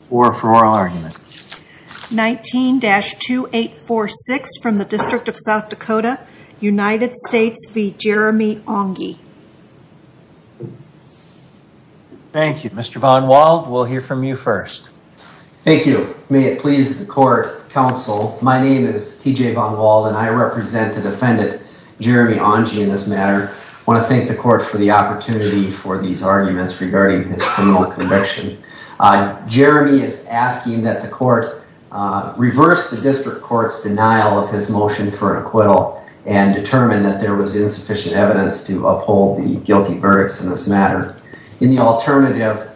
for oral argument. 19-2846 from the District of South Dakota, United States v. Jeremy Aungie. Thank you. Mr. Von Wald, we'll hear from you first. Thank you. May it please the court, counsel, my name is T.J. Von Wald and I represent the defendant Jeremy Aungie in this matter. I want to thank the court for the opportunity for these arguments regarding his criminal conviction. Jeremy is asking that the court reverse the district court's denial of his motion for acquittal and determine that there was insufficient evidence to uphold the guilty verdicts in this matter. In the alternative,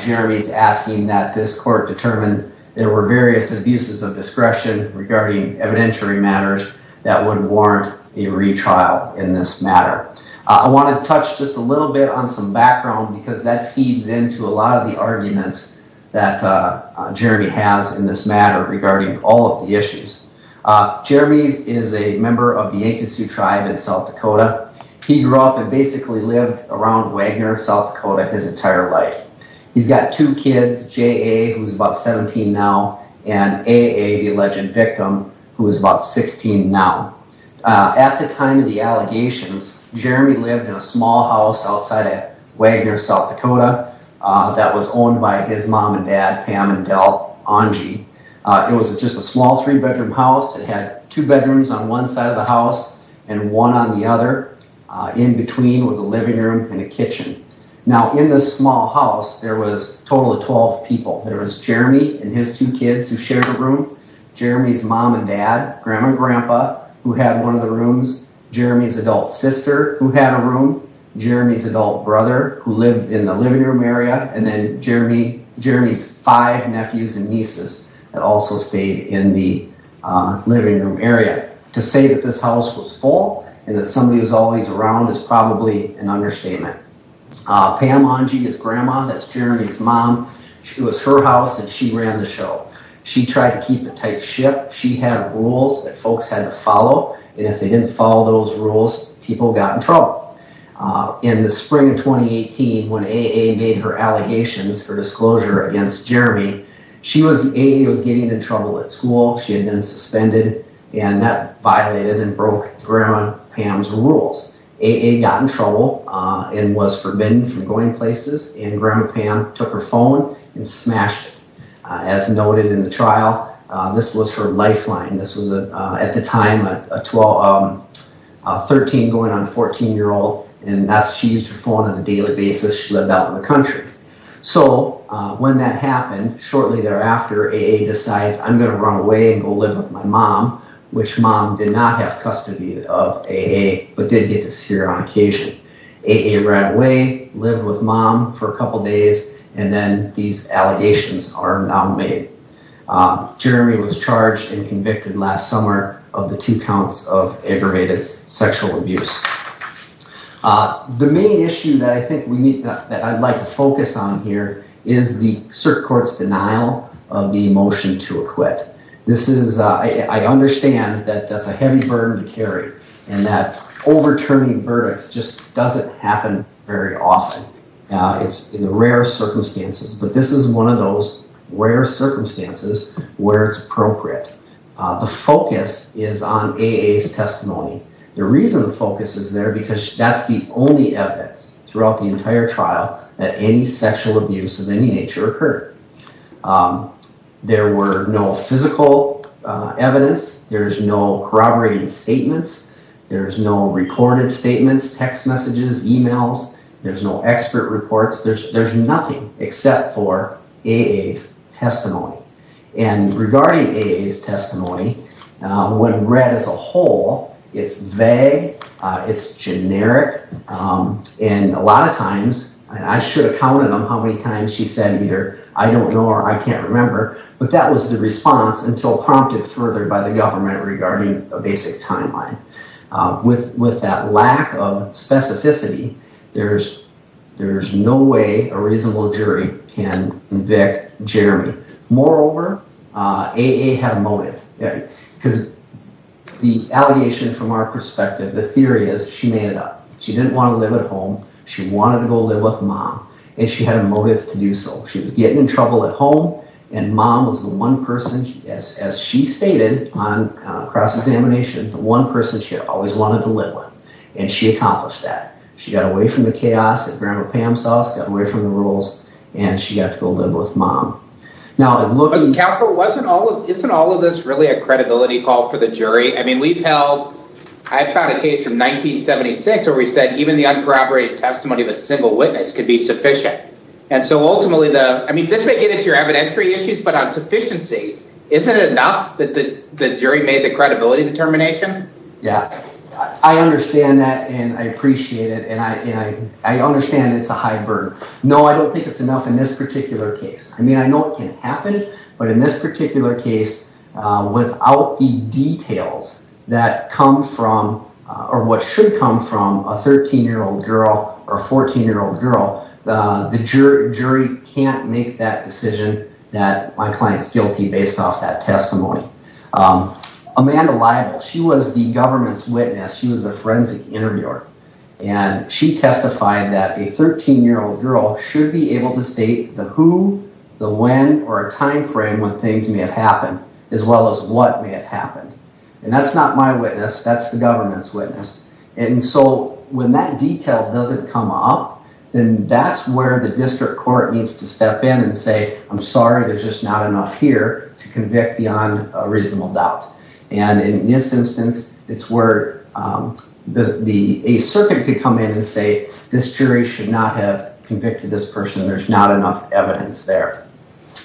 Jeremy is asking that this court determine there were various abuses of discretion regarding evidentiary matters that would warrant a retrial in this matter. I want to touch just a little bit on some background because that feeds into a lot of the arguments that Jeremy has in this matter regarding all of the issues. Jeremy is a member of the Akosu tribe in South Dakota. He grew up and basically lived around Wagner, South Dakota his entire life. He's got two kids, J.A., who's about 17 now, and A.A., the alleged victim, who is about 16 now. At the time of the allegations, Jeremy lived in a small house outside of Wagner, South Dakota that was owned by his mom and dad, Pam and Del Aungie. It was just a small three-bedroom house. It had two bedrooms on one side of the house and one on the other. In between was a living room and a kitchen. Now in this small house, there was a total of 12 people. There was Jeremy and his two who had one of the rooms, Jeremy's adult sister who had a room, Jeremy's adult brother who lived in the living room area, and then Jeremy's five nephews and nieces that also stayed in the living room area. To say that this house was full and that somebody was always around is probably an understatement. Pam Aungie, his grandma, that's Jeremy's mom, it was her house and she ran the and if they didn't follow those rules, people got in trouble. In the spring of 2018, when A.A. made her allegations, her disclosure against Jeremy, A.A. was getting in trouble at school. She had been suspended and that violated and broke Grandma Pam's rules. A.A. got in trouble and was forbidden from going places and Grandma Pam took her phone and smashed it. As noted in the trial, this was her lifeline. This was at the time a 13 going on a 14 year old and she used her phone on a daily basis. She lived out in the country. So when that happened, shortly thereafter, A.A. decides I'm going to run away and go live with my mom, which mom did not have custody of A.A. but did get to see her on occasion. A.A. ran away, lived with mom for a couple days, and then these allegations are now made. Jeremy was charged and convicted last summer of the two counts of aggravated sexual abuse. The main issue that I think we need that I'd like to focus on here is the circuit court's denial of the motion to acquit. This is, I understand that that's a heavy burden to carry and that overturning verdicts just doesn't happen very often. It's in the rare circumstances, but this is one of those rare circumstances where it's appropriate. The focus is on A.A.'s testimony. The reason the focus is there because that's the only evidence throughout the entire trial that any sexual abuse of any nature occurred. There were no physical evidence. There's no corroborated statements. There's no recorded statements, text messages, emails. There's no expert reports. There's nothing except for A.A.'s testimony. And regarding A.A.'s testimony, when read as a whole, it's vague, it's generic, and a lot of times, and I should have counted them how many times she said either I don't know or I can't remember, but that was the response until prompted further by the a reasonable jury, Ken, Vic, Jeremy. Moreover, A.A. had a motive because the allegation from our perspective, the theory is she made it up. She didn't want to live at home. She wanted to go live with mom, and she had a motive to do so. She was getting in trouble at home, and mom was the one person, as she stated on cross-examination, the one person she had always wanted to live with, and she accomplished that. She got away from the chaos that Grandma Pam saw. She got away from the rules, and she got to go live with mom. Now, counsel, isn't all of this really a credibility call for the jury? I mean, we've held, I found a case from 1976 where we said even the uncorroborated testimony of a single witness could be sufficient, and so ultimately the, I mean, this may get into your evidentiary issues, but on sufficiency, isn't it enough that the jury made the credibility determination? Yeah, I understand that, and I appreciate it, and I understand it's a high burden. No, I don't think it's enough in this particular case. I mean, I know it can happen, but in this particular case, without the details that come from or what should come from a 13-year- old girl or 14-year-old girl, the jury can't make that decision that my client's guilty based off that testimony. Amanda Libel, she was the government's witness. She was the forensic interviewer, and she testified that a 13-year-old girl should be able to state the who, the when, or a time frame when things may have happened, as well as what may have happened, and that's not my witness. That's the government's witness, and so when that detail doesn't come up, then that's where the district court needs to step in and say, I'm sorry, there's just not enough here to convict beyond a reasonable doubt, and in this instance, it's where the ace circuit could come in and say, this jury should not have convicted this person. There's not enough evidence there.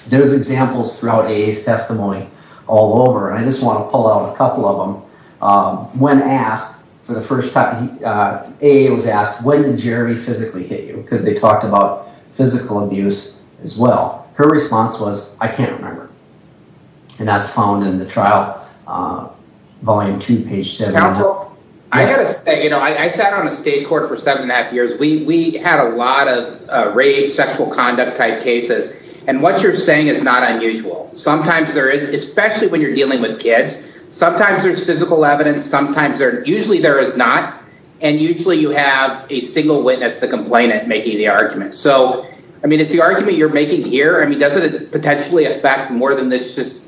There's examples throughout AA's testimony all over, and I just want to pull out a couple of them. When asked for the first time, AA was asked, when did Jeremy physically hit you, because they talked about physical abuse as well. Her response was, I can't remember. And that's found in the trial volume two, page seven. I got to say, I sat on a state court for seven and a half years. We had a lot of rape, sexual conduct type cases, and what you're saying is not unusual. Sometimes there is, especially when you're dealing with kids. Sometimes there's physical evidence. Usually there is not, and usually you have a single witness to complain at making the argument. So, I mean, if the argument you're making here, I mean, doesn't it potentially affect more than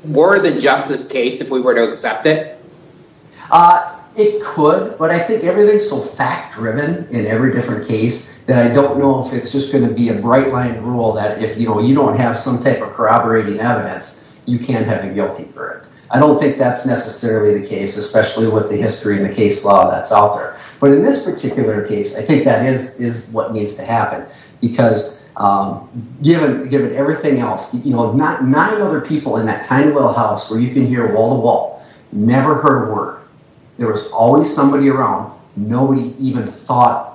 more than just this case if we were to accept it? It could, but I think everything's so fact-driven in every different case that I don't know if it's just going to be a bright line rule that if you don't have some type of corroborating evidence, you can't have a guilty verdict. I don't think that's necessarily the case, especially with the history and the case law that's out there. But in this particular case, I think that is what needs to happen, because given everything else, you know, nine other people in that tiny little house where you can hear wall to wall, never heard a word. There was always somebody around. Nobody even thought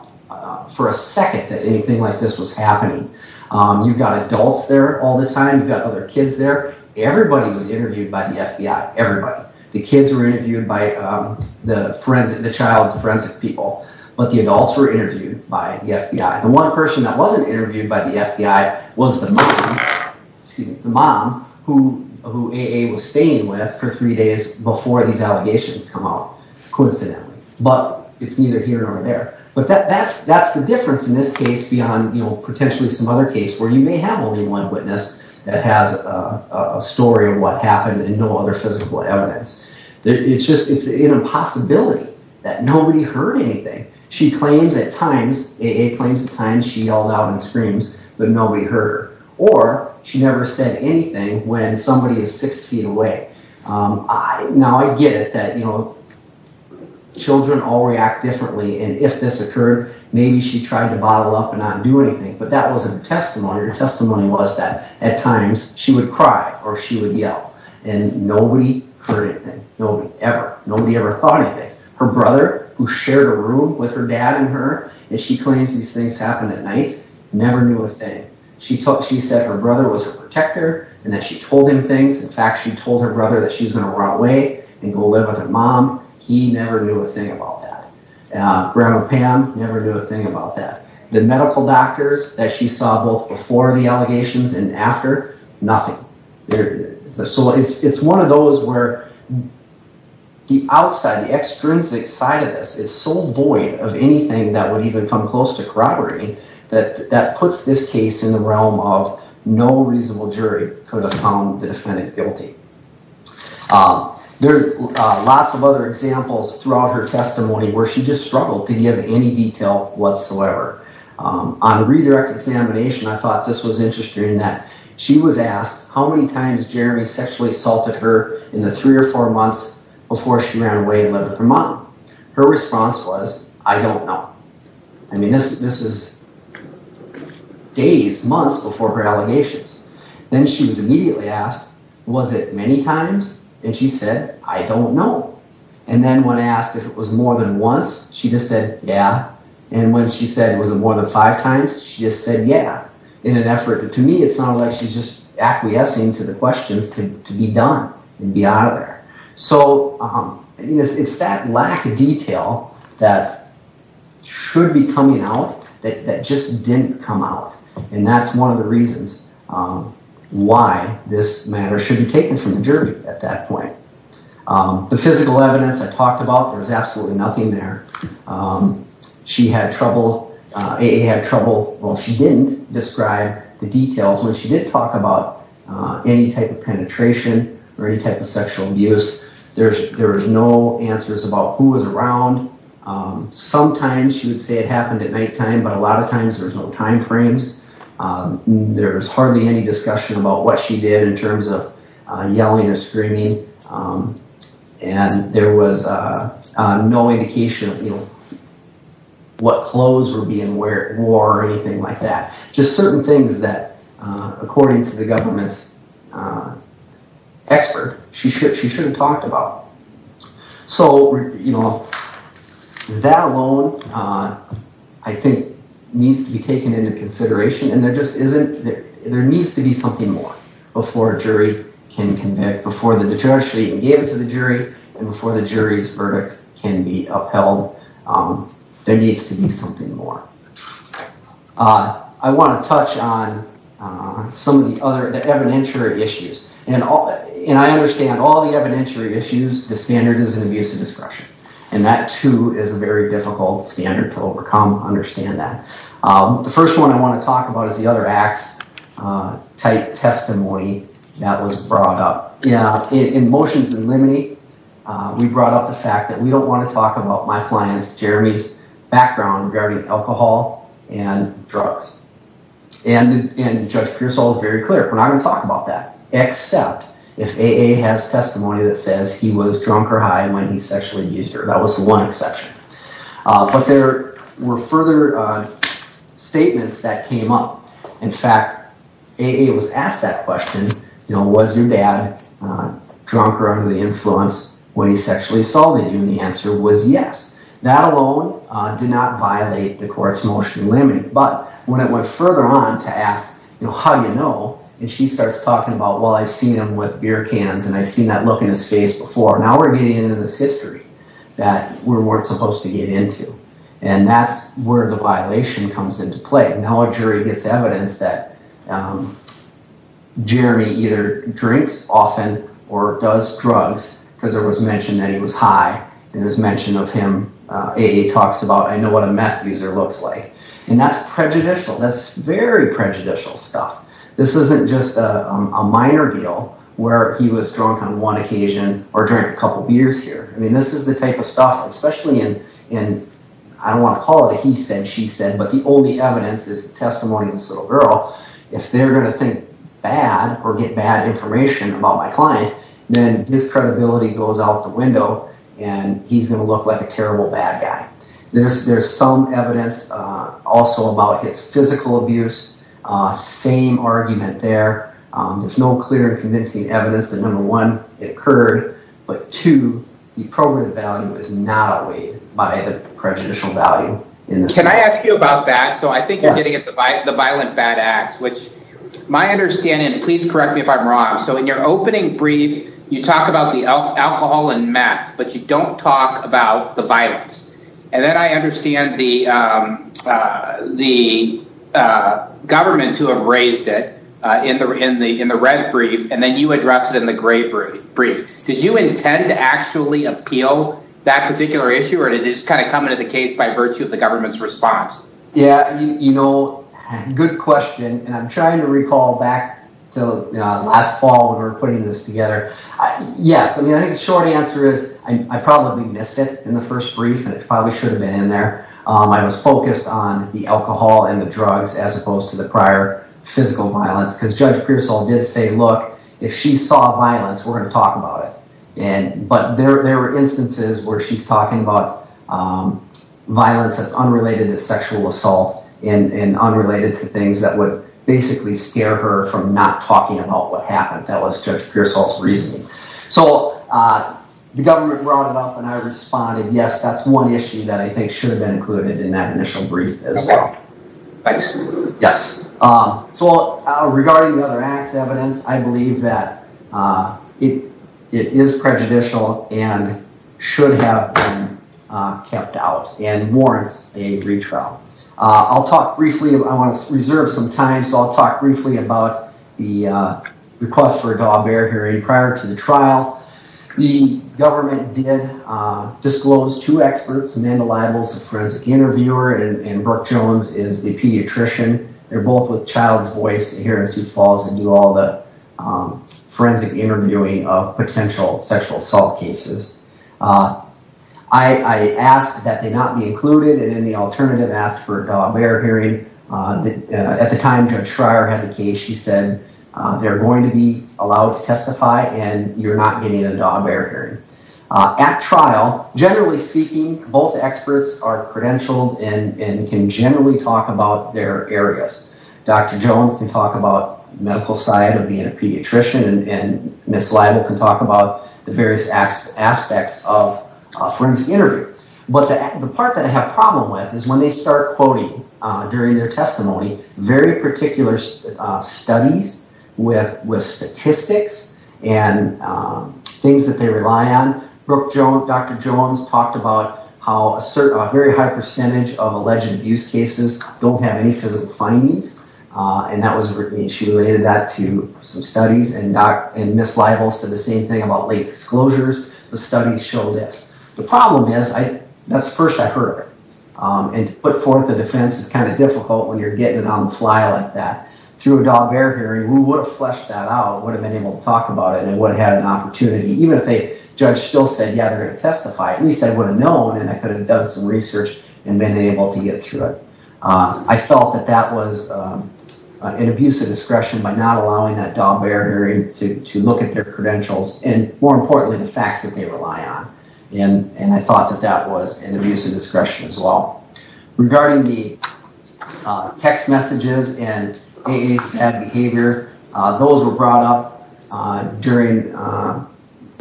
for a second that anything like this was happening. You've got adults there all the time. You've got other kids there. Everybody was interviewed by the FBI, everybody. The kids were interviewed by the child forensic people, but the adults were interviewed by the FBI. The one person that wasn't interviewed by the FBI was the mom who AA was staying with for three days before these allegations come out, coincidentally. But it's neither here nor there. But that's the difference in this case beyond, you know, potentially some other case where you may have only one witness that has a story of what happened and no other physical evidence. It's just it's an impossibility that nobody heard anything. She claims at times, AA claims at times she yelled out and screams, but nobody heard her. Or she never said anything when somebody is six feet away. Now, I get it that, you know, children all react differently, and if this occurred, maybe she tried to bottle up and not do anything. But that wasn't her testimony. Her testimony was at times she would cry or she would yell, and nobody heard anything. Nobody ever thought anything. Her brother, who shared a room with her dad and her, and she claims these things happened at night, never knew a thing. She said her brother was her protector and that she told him things. In fact, she told her brother that she's going to run away and go live with her mom. He never knew a thing about that. Grandma Pam never knew a thing about that. The medical doctors that she saw both before the allegations and after, nothing. So it's one of those where the outside, the extrinsic side of this is so void of anything that would even come close to corroborating that that puts this case in the realm of no reasonable jury could have found the defendant guilty. There's lots of other examples throughout her testimony where she just struggled to give any detail whatsoever. On a redirect examination, I thought this was interesting that she was asked how many times Jeremy sexually assaulted her in the three or four months before she ran away and lived with her mom. Her response was, I don't know. I mean, this is days, months before her allegations. Then she was immediately asked, was it many times? And she said, I don't know. And then when asked if it was more than once, she just said, yeah. And when she said was it more than five times, she just said, yeah, in an effort. To me, it's not like she's just acquiescing to the questions to be done and be out of there. So I mean, it's that lack of detail that should be coming out that just didn't come out. And that's one of the reasons why this matter should be taken from the jury at that point. The physical evidence I talked about, there was absolutely nothing there. She had trouble, AA had trouble, well, she didn't describe the details. When she did talk about any type of penetration or any type of sexual abuse, there was no answers about who was around. Sometimes she would say it happened at nighttime, but a lot of times there's no time frames. There's hardly any discussion about what she did in terms of yelling or screaming. And there was no indication of what clothes were being wore or anything like that. Just certain things that, according to the government's expert, she should have talked about. So that alone, I think, needs to be taken into consideration. And there just isn't, there needs to be something more before a jury can convict, before the judge even gave it to the jury and before the jury's verdict can be upheld. There needs to be something more. I want to touch on some of the other, the evidentiary issues. And I understand all the standards of abuse of discretion. And that, too, is a very difficult standard to overcome, understand that. The first one I want to talk about is the other acts-type testimony that was brought up. In motions in limine, we brought up the fact that we don't want to talk about my client's, Jeremy's, background regarding alcohol and drugs. And Judge Pearsall is very clear, we're not going to talk about that, except if AA has testimony that says he was drunk or high when he sexually abused her. That was the one exception. But there were further statements that came up. In fact, AA was asked that question, was your dad drunk or under the influence when he sexually assaulted you? And the answer was yes. That alone did not violate the court's motion but when it went further on to ask, you know, how do you know? And she starts talking about, well, I've seen him with beer cans and I've seen that look in his face before. Now we're getting into this history that we weren't supposed to get into. And that's where the violation comes into play. Now a jury gets evidence that Jeremy either drinks often or does drugs because it was mentioned that he was high and it was mentioned of him, AA talks about, I know what a meth user looks like. And that's prejudicial. That's very prejudicial stuff. This isn't just a minor deal where he was drunk on one occasion or drank a couple beers here. I mean, this is the type of stuff, especially in, I don't want to call it a he said, she said, but the only evidence is testimony of this little girl. If they're going to think bad or get bad information about my client, then his credibility goes out the window and he's going to look like a terrible bad guy. There's, there's some evidence, uh, also about his physical abuse, uh, same argument there. Um, there's no clear convincing evidence that number one, it occurred, but two, the program value is not weighed by the prejudicial value. Can I ask you about that? So I think you're getting at the, by the violent bad acts, which my understanding, please correct me if I'm wrong. So in your opening brief, you talk about the alcohol and meth, but you don't talk about the violence. And then I understand the, um, uh, the, uh, government to have raised it, uh, in the, in the, in the red brief, and then you address it in the gray brief brief. Did you intend to actually appeal that particular issue or did it just kind of come into the case by virtue of the government's response? Yeah. You know, good question. And I'm trying to recall back till, uh, last fall when we were putting this together. Yes. I mean, I think the short answer is I probably missed it in the first brief and it probably should have been in there. Um, I was focused on the alcohol and the drugs as opposed to the prior physical violence because Judge Pearsall did say, look, if she saw violence, we're going to talk about it. And, but there, there were instances where she's talking about, um, violence that's unrelated to sexual assault and, and unrelated to things that would basically scare her from not talking about what happened. That was Judge Pearsall's reasoning. So, uh, the government brought it up and I responded, yes, that's one issue that I think should have been included in that initial brief as well. Yes. Um, so, uh, regarding the other acts evidence, I believe that, uh, it, it is prejudicial and should have been, uh, kept out and warrants a retrial. Uh, I'll talk briefly, I want to prior to the trial, the government did, uh, disclose two experts, Amanda Libels, a forensic interviewer, and, and Brooke Jones is the pediatrician. They're both with Child's Voice here in Sioux Falls and do all the, um, forensic interviewing of potential sexual assault cases. Uh, I, I asked that they not be included. And then the alternative asked for a dog bear hearing, uh, the, uh, at the time Judge Schreier had the case, she said, uh, they're going to be allowed to testify and you're not getting a dog bear hearing. Uh, at trial, generally speaking, both experts are credentialed and, and can generally talk about their areas. Dr. Jones can talk about the medical side of being a pediatrician and, and Ms. Libel can talk about the various aspects of a forensic interview. But the, the part that I have a problem with is when they start quoting, uh, during their testimony, very particular, uh, studies with, with statistics and, um, things that they rely on. Brooke Jones, Dr. Jones talked about how a certain, a very high percentage of alleged abuse cases don't have any physical findings. Uh, and that was Brittany. She related that to some studies and Dr., and Ms. Libel said the same thing about late disclosures. The studies show this. The problem is I, that's the first I heard. Um, and to put forth a defense is kind of difficult when you're getting it on the fly like that. Through a dog bear hearing, we would have fleshed that out, would have been able to talk about it, and they would have had an opportunity. Even if they, Judge still said, yeah, they're going to testify, at least I would have known and I could have done some research and been able to get through it. Um, I felt that that was, um, an abuse of discretion by not allowing that dog bear hearing to, to look at their credentials and more importantly, the facts they rely on. And, and I thought that that was an abuse of discretion as well. Regarding the, uh, text messages and AA's bad behavior, uh, those were brought up, uh, during, uh,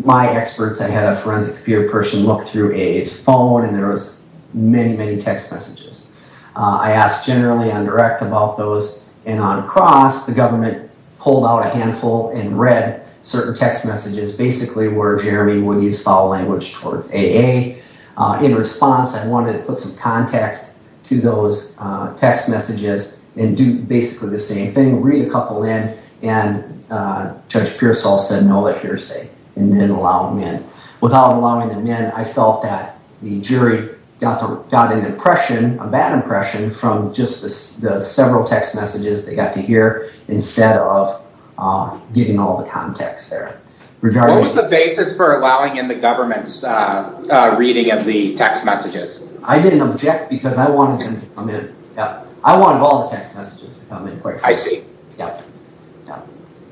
my experts, I had a forensic computer person look through AA's phone and there was many, many text messages. Uh, I asked generally on direct about those and on cross, the government pulled out a handful and read certain text messages basically where Jeremy would use foul language towards AA. Uh, in response, I wanted to put some context to those, uh, text messages and do basically the same thing, read a couple in and, uh, Judge Pearsall said, no, that hearsay and then allow them in. Without allowing them in, I felt that the jury got to, got an impression, a bad impression from just the, the several text messages they got to hear instead of, uh, getting all the context there. What was the basis for allowing in the government's, uh, uh, reading of the text messages? I didn't object because I wanted them to come in. Yeah. I wanted all the text messages to come in quick. I see. Yeah. Yeah.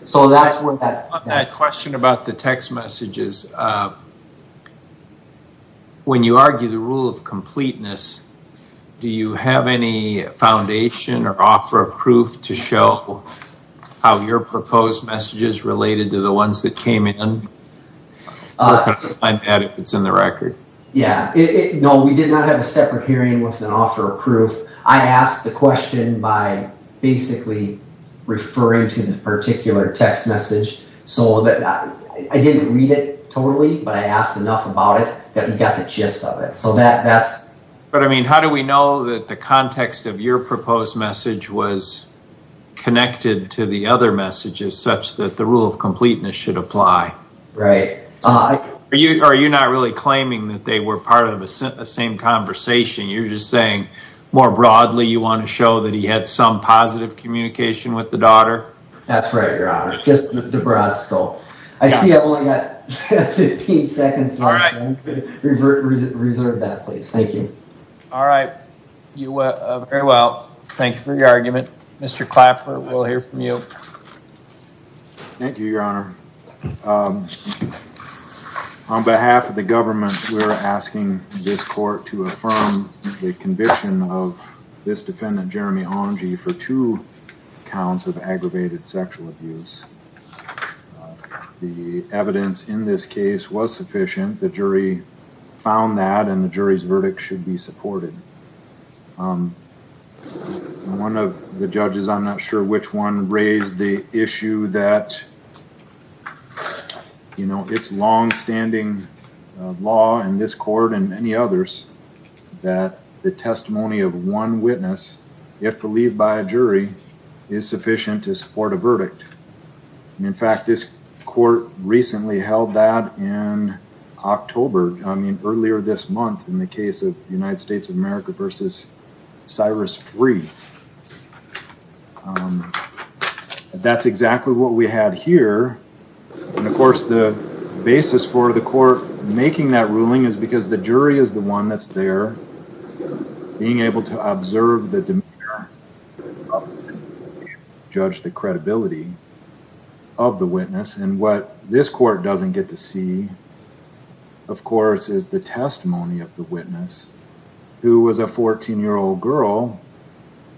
So that's where that question about the text messages, uh, when you argue the rule of completeness, do you have any foundation or offer of proof to show how your proposed messages related to the ones that came in? Uh, I'm bad if it's in the record. Yeah, no, we did not have a separate hearing with an offer of proof. I asked the question by basically referring to the particular text message so that I didn't read it totally, but I asked enough about it that we got the gist of it. So that, that's. But I mean, how do we know that the context of your proposed message was connected to the other messages such that the rule of completeness should apply? Right. Uh, are you, are you not really claiming that they were part of a same conversation? You're just saying more broadly, you want to show that he had some positive communication with the daughter? That's right, Your Honor. Just the broad scope. I see I've only got 15 seconds left. All right. Reserve that place. Thank you. All right. You, uh, very well. Thank you for your argument. Mr. Clapper, we'll hear from you. Thank you, Your Honor. On behalf of the government, we're asking this court to affirm the conviction of this defendant, Jeremy Omgee, for two counts of aggravated sexual abuse. The evidence in this case was sufficient. The jury found that, and the jury's verdict should be supported. One of the judges, I'm not sure which one, raised the issue that, you know, it's long-standing law in this court and many others that the testimony of one witness, if believed by a jury, is sufficient to support a verdict. And in fact, this court recently held that in October, I mean earlier this month, in the case of United States of America versus Cyrus Free, that's exactly what we had here. And of course, the basis for the court making that ruling is because the jury is the one that's there being able to observe the judge, the credibility of the witness. And what this court doesn't get to see, of course, is the testimony of the witness who was a 14-year-old girl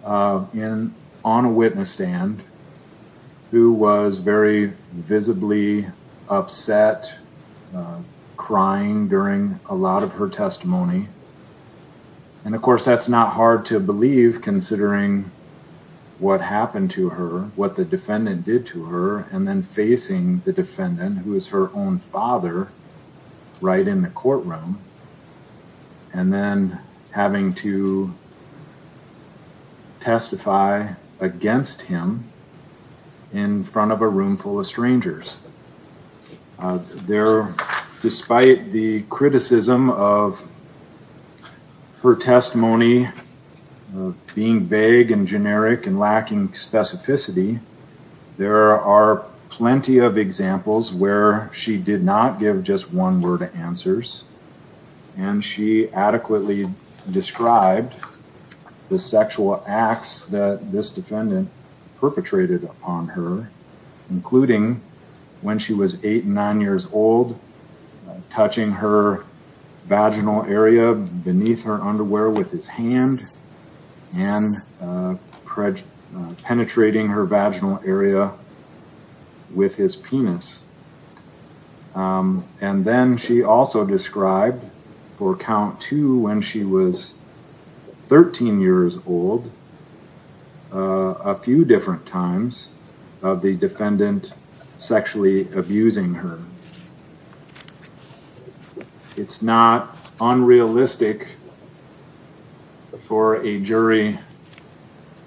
on a witness stand who was very visibly upset, crying during a lot of her testimony. And of course, that's not hard to believe considering what happened to her, what the defendant, who was her own father, right in the courtroom, and then having to testify against him in front of a room full of strangers. There, despite the criticism of her testimony, her testimony being vague and generic and lacking specificity, there are plenty of examples where she did not give just one word of answers. And she adequately described the sexual acts that this defendant perpetrated upon her, including when she was eight, nine years old, touching her vaginal area beneath her underwear with his hand and penetrating her vaginal area with his penis. And then she also described for count two when she was 13 years old a few different times of the defendant sexually abusing her. It's not unrealistic for a jury,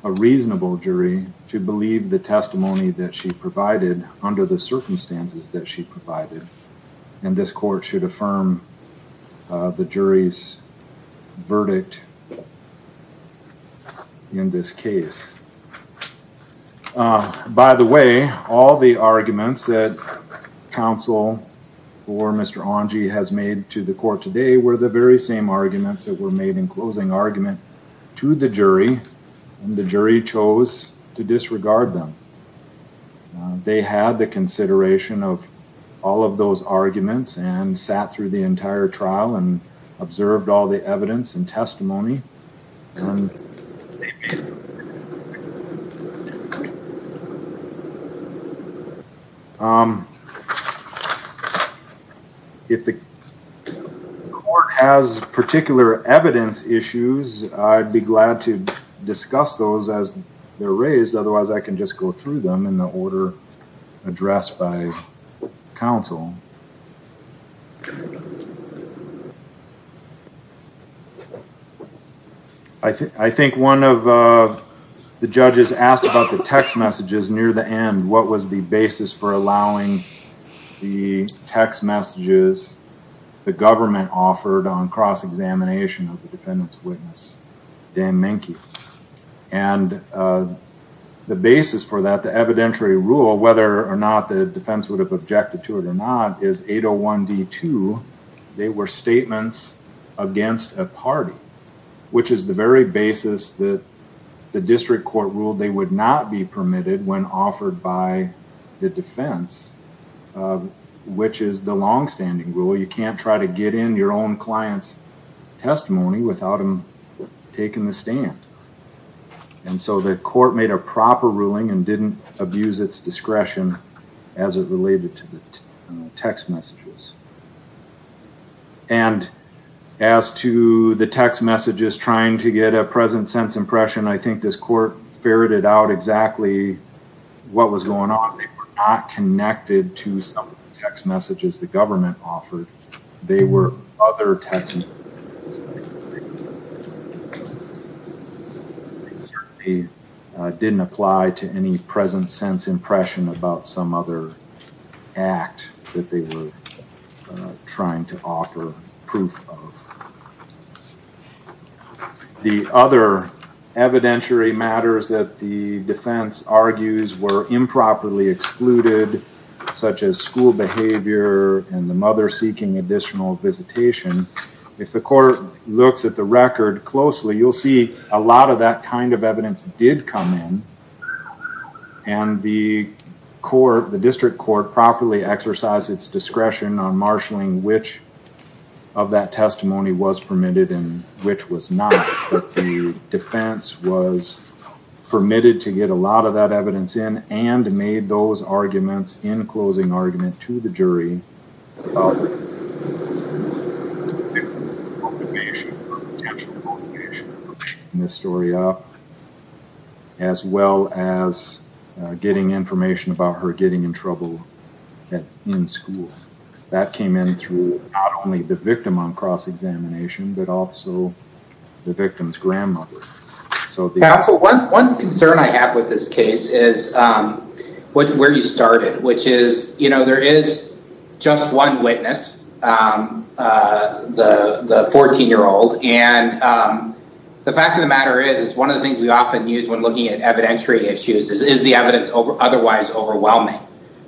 a reasonable jury, to believe the testimony that she provided under the circumstances that she provided. And this court should affirm the jury's verdict in this case. By the way, all the arguments that counsel or Mr. Ongie has made to the court today were the very same arguments that were made in closing argument to the jury, and the jury chose to disregard them. They had the consideration of all of those arguments and sat through the entire trial and observed all the evidence and testimony. If the court has particular evidence issues, I'd be glad to discuss those as they're raised. Otherwise, I can just go through them in the order addressed by counsel. I think one of the judges asked about the text messages near the end. What was the basis for that? The basis for that, the evidentiary rule, whether or not the defense would have objected to it or not, is 801D2. They were statements against a party, which is the very basis that the district court ruled they would not be permitted when offered by the defense, which is the longstanding rule. You can't try to get in your own client's testimony without them taking the stand. And so the court made a proper ruling and didn't abuse its discretion as it related to the text messages. And as to the text messages trying to get a present sense impression, I think this court ferreted out exactly what was going on. They were not connected to some of the text messages the they were other text messages. They certainly didn't apply to any present sense impression about some other act that they were trying to offer proof of. The other evidentiary matters that the defense argues were improperly excluded, such as school behavior and the mother seeking additional visitation. If the court looks at the record closely, you'll see a lot of that kind of evidence did come in. And the court, the district court properly exercised its discretion on marshaling which of that testimony was permitted and which was not. But the defense was permitted to get a lot that evidence in and made those arguments in closing argument to the jury. As well as getting information about her getting in trouble in school. That came in through not only the victim on cross-examination, but also the victim's grandmother. Counsel, one concern I have with this case is where you started, which is, you know, there is just one witness, the 14-year-old. And the fact of the matter is, it's one of the things we often use when looking at evidentiary issues is, is the evidence otherwise overwhelming?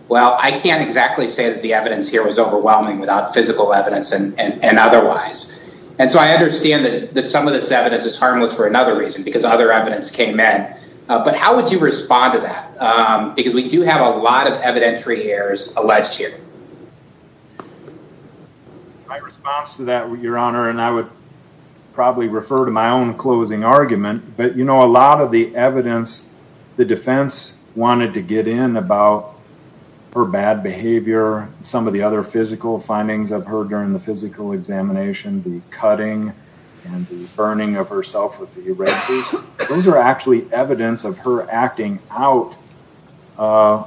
Well, I can't exactly say that the evidence here was overwhelming without physical evidence and otherwise. And so I understand that some of this evidence is harmless for another reason, because other evidence came in. But how would you respond to that? Because we do have a lot of evidentiary errors alleged here. My response to that, Your Honor, and I would probably refer to my own closing argument, but you know, a lot of the evidence the defense wanted to get in about her bad behavior, some of the other physical findings I've heard during the physical examination, the burning of herself with the red boots, those are actually evidence of her acting out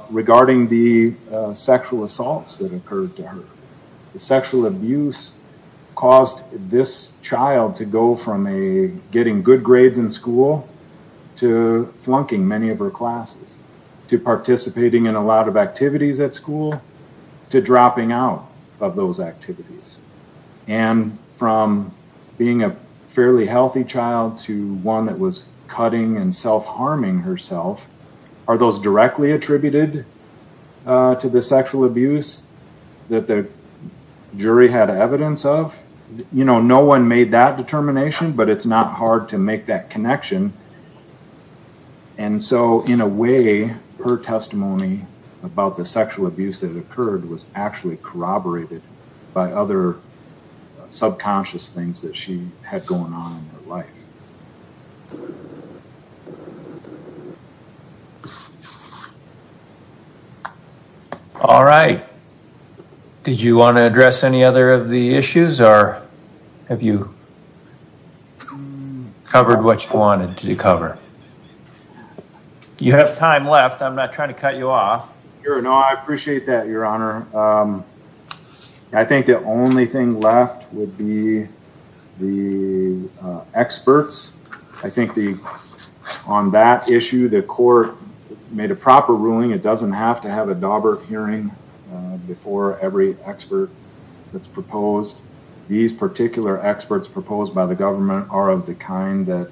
regarding the sexual assaults that occurred to her. The sexual abuse caused this child to go from getting good grades in school to flunking many of her classes, to participating in a lot of fairly healthy child to one that was cutting and self harming herself. Are those directly attributed to the sexual abuse that the jury had evidence of? You know, no one made that determination, but it's not hard to make that connection. And so in a way, her testimony about the sexual abuse that occurred was actually corroborated by other subconscious things that she had going on in her life. All right. Did you want to address any other of the issues or have you covered what you wanted to cover? You have time left. I'm not trying to cut you off. Sure. No, I appreciate that, Your Honor. I think the only thing left would be the experts. I think on that issue, the court made a proper ruling. It doesn't have to have a Daubert hearing before every expert that's proposed. These particular experts proposed by the government are that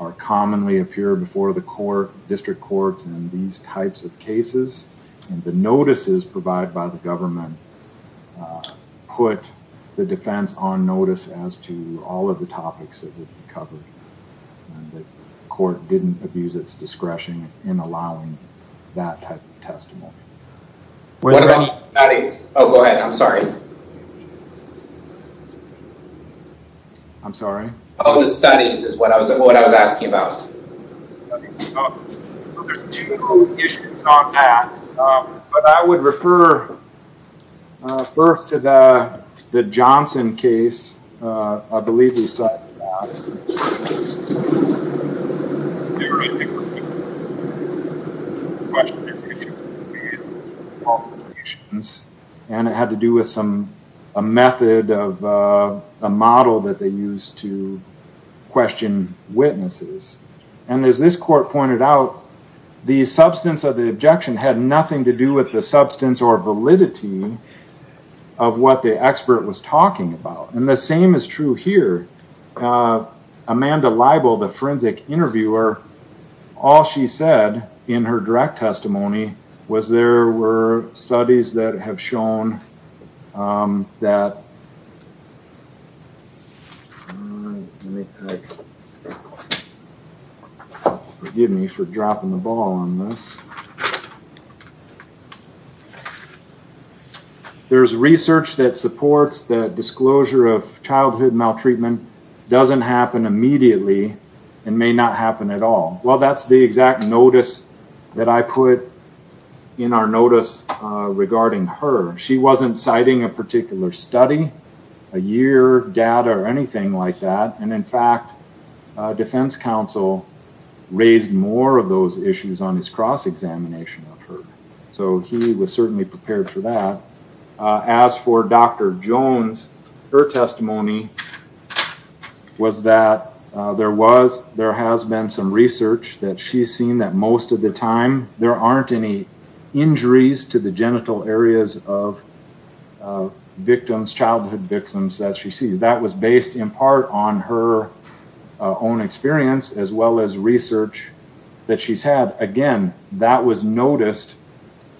are commonly appear before the court, district courts, and these types of cases. And the notices provided by the government put the defense on notice as to all of the topics that would be covered. And the court didn't abuse its discretion in allowing that type of testimony. What about the studies? Oh, go ahead. I'm sorry. I'm sorry. Oh, the studies is what I was asking about. So there's two issues on that, but I would refer first to the Johnson case. I believe he cited that. And it had to do with a method of a model that they used to question witnesses. And as this court pointed out, the substance of the objection had nothing to do with the substance or validity of what the expert was talking about. And the same is true here. Amanda Libel, the forensic interviewer, all she said in her direct testimony was there were studies that have shown that forgive me for dropping the ball on this. There's research that supports that disclosure of childhood maltreatment doesn't happen immediately and may not happen at all. Well, that's the exact notice that I put in our notice regarding her. She wasn't citing a particular study, a year, data, or anything like that. And in fact, defense counsel raised more of those issues on his cross-examination of her. So he was certainly prepared for that. As for Dr. Jones, her testimony was that there was, there has been some research that she's seen that most of the time, there aren't any injuries to the genital areas of victims, childhood victims that she sees. That was based in part on her own experience as well as research that she's had. Again, that was noticed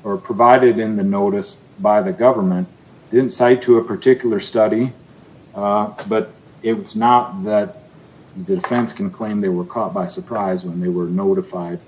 or provided in the notice by the government. Didn't cite to a particular study, but it's not that the defense can claim they were caught by surprise when they were notified.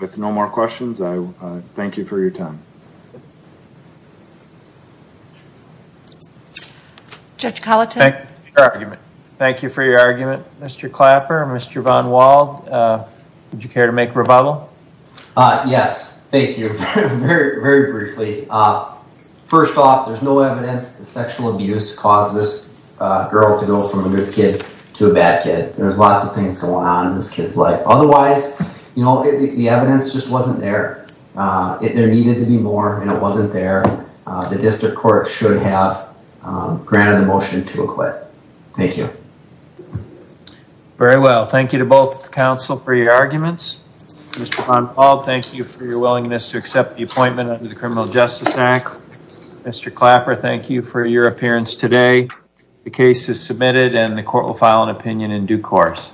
With no more questions, I thank you for your time. Thank you for your argument. Mr. Clapper, Mr. Von Wald, would you care to make a rebuttal? Yes. Thank you. Very, very briefly. First off, there's no evidence that the sexual assault caused this girl to go from a good kid to a bad kid. There's lots of things going on in this kid's life. Otherwise, you know, the evidence just wasn't there. There needed to be more and it wasn't there. The district court should have granted the motion to acquit. Thank you. Very well. Thank you to both counsel for your arguments. Mr. Von Wald, thank you for your willingness to accept the appointment under the Criminal Justice Act. Mr. Clapper, thank you for your appearance today. The case is submitted and the court will file an opinion in due course.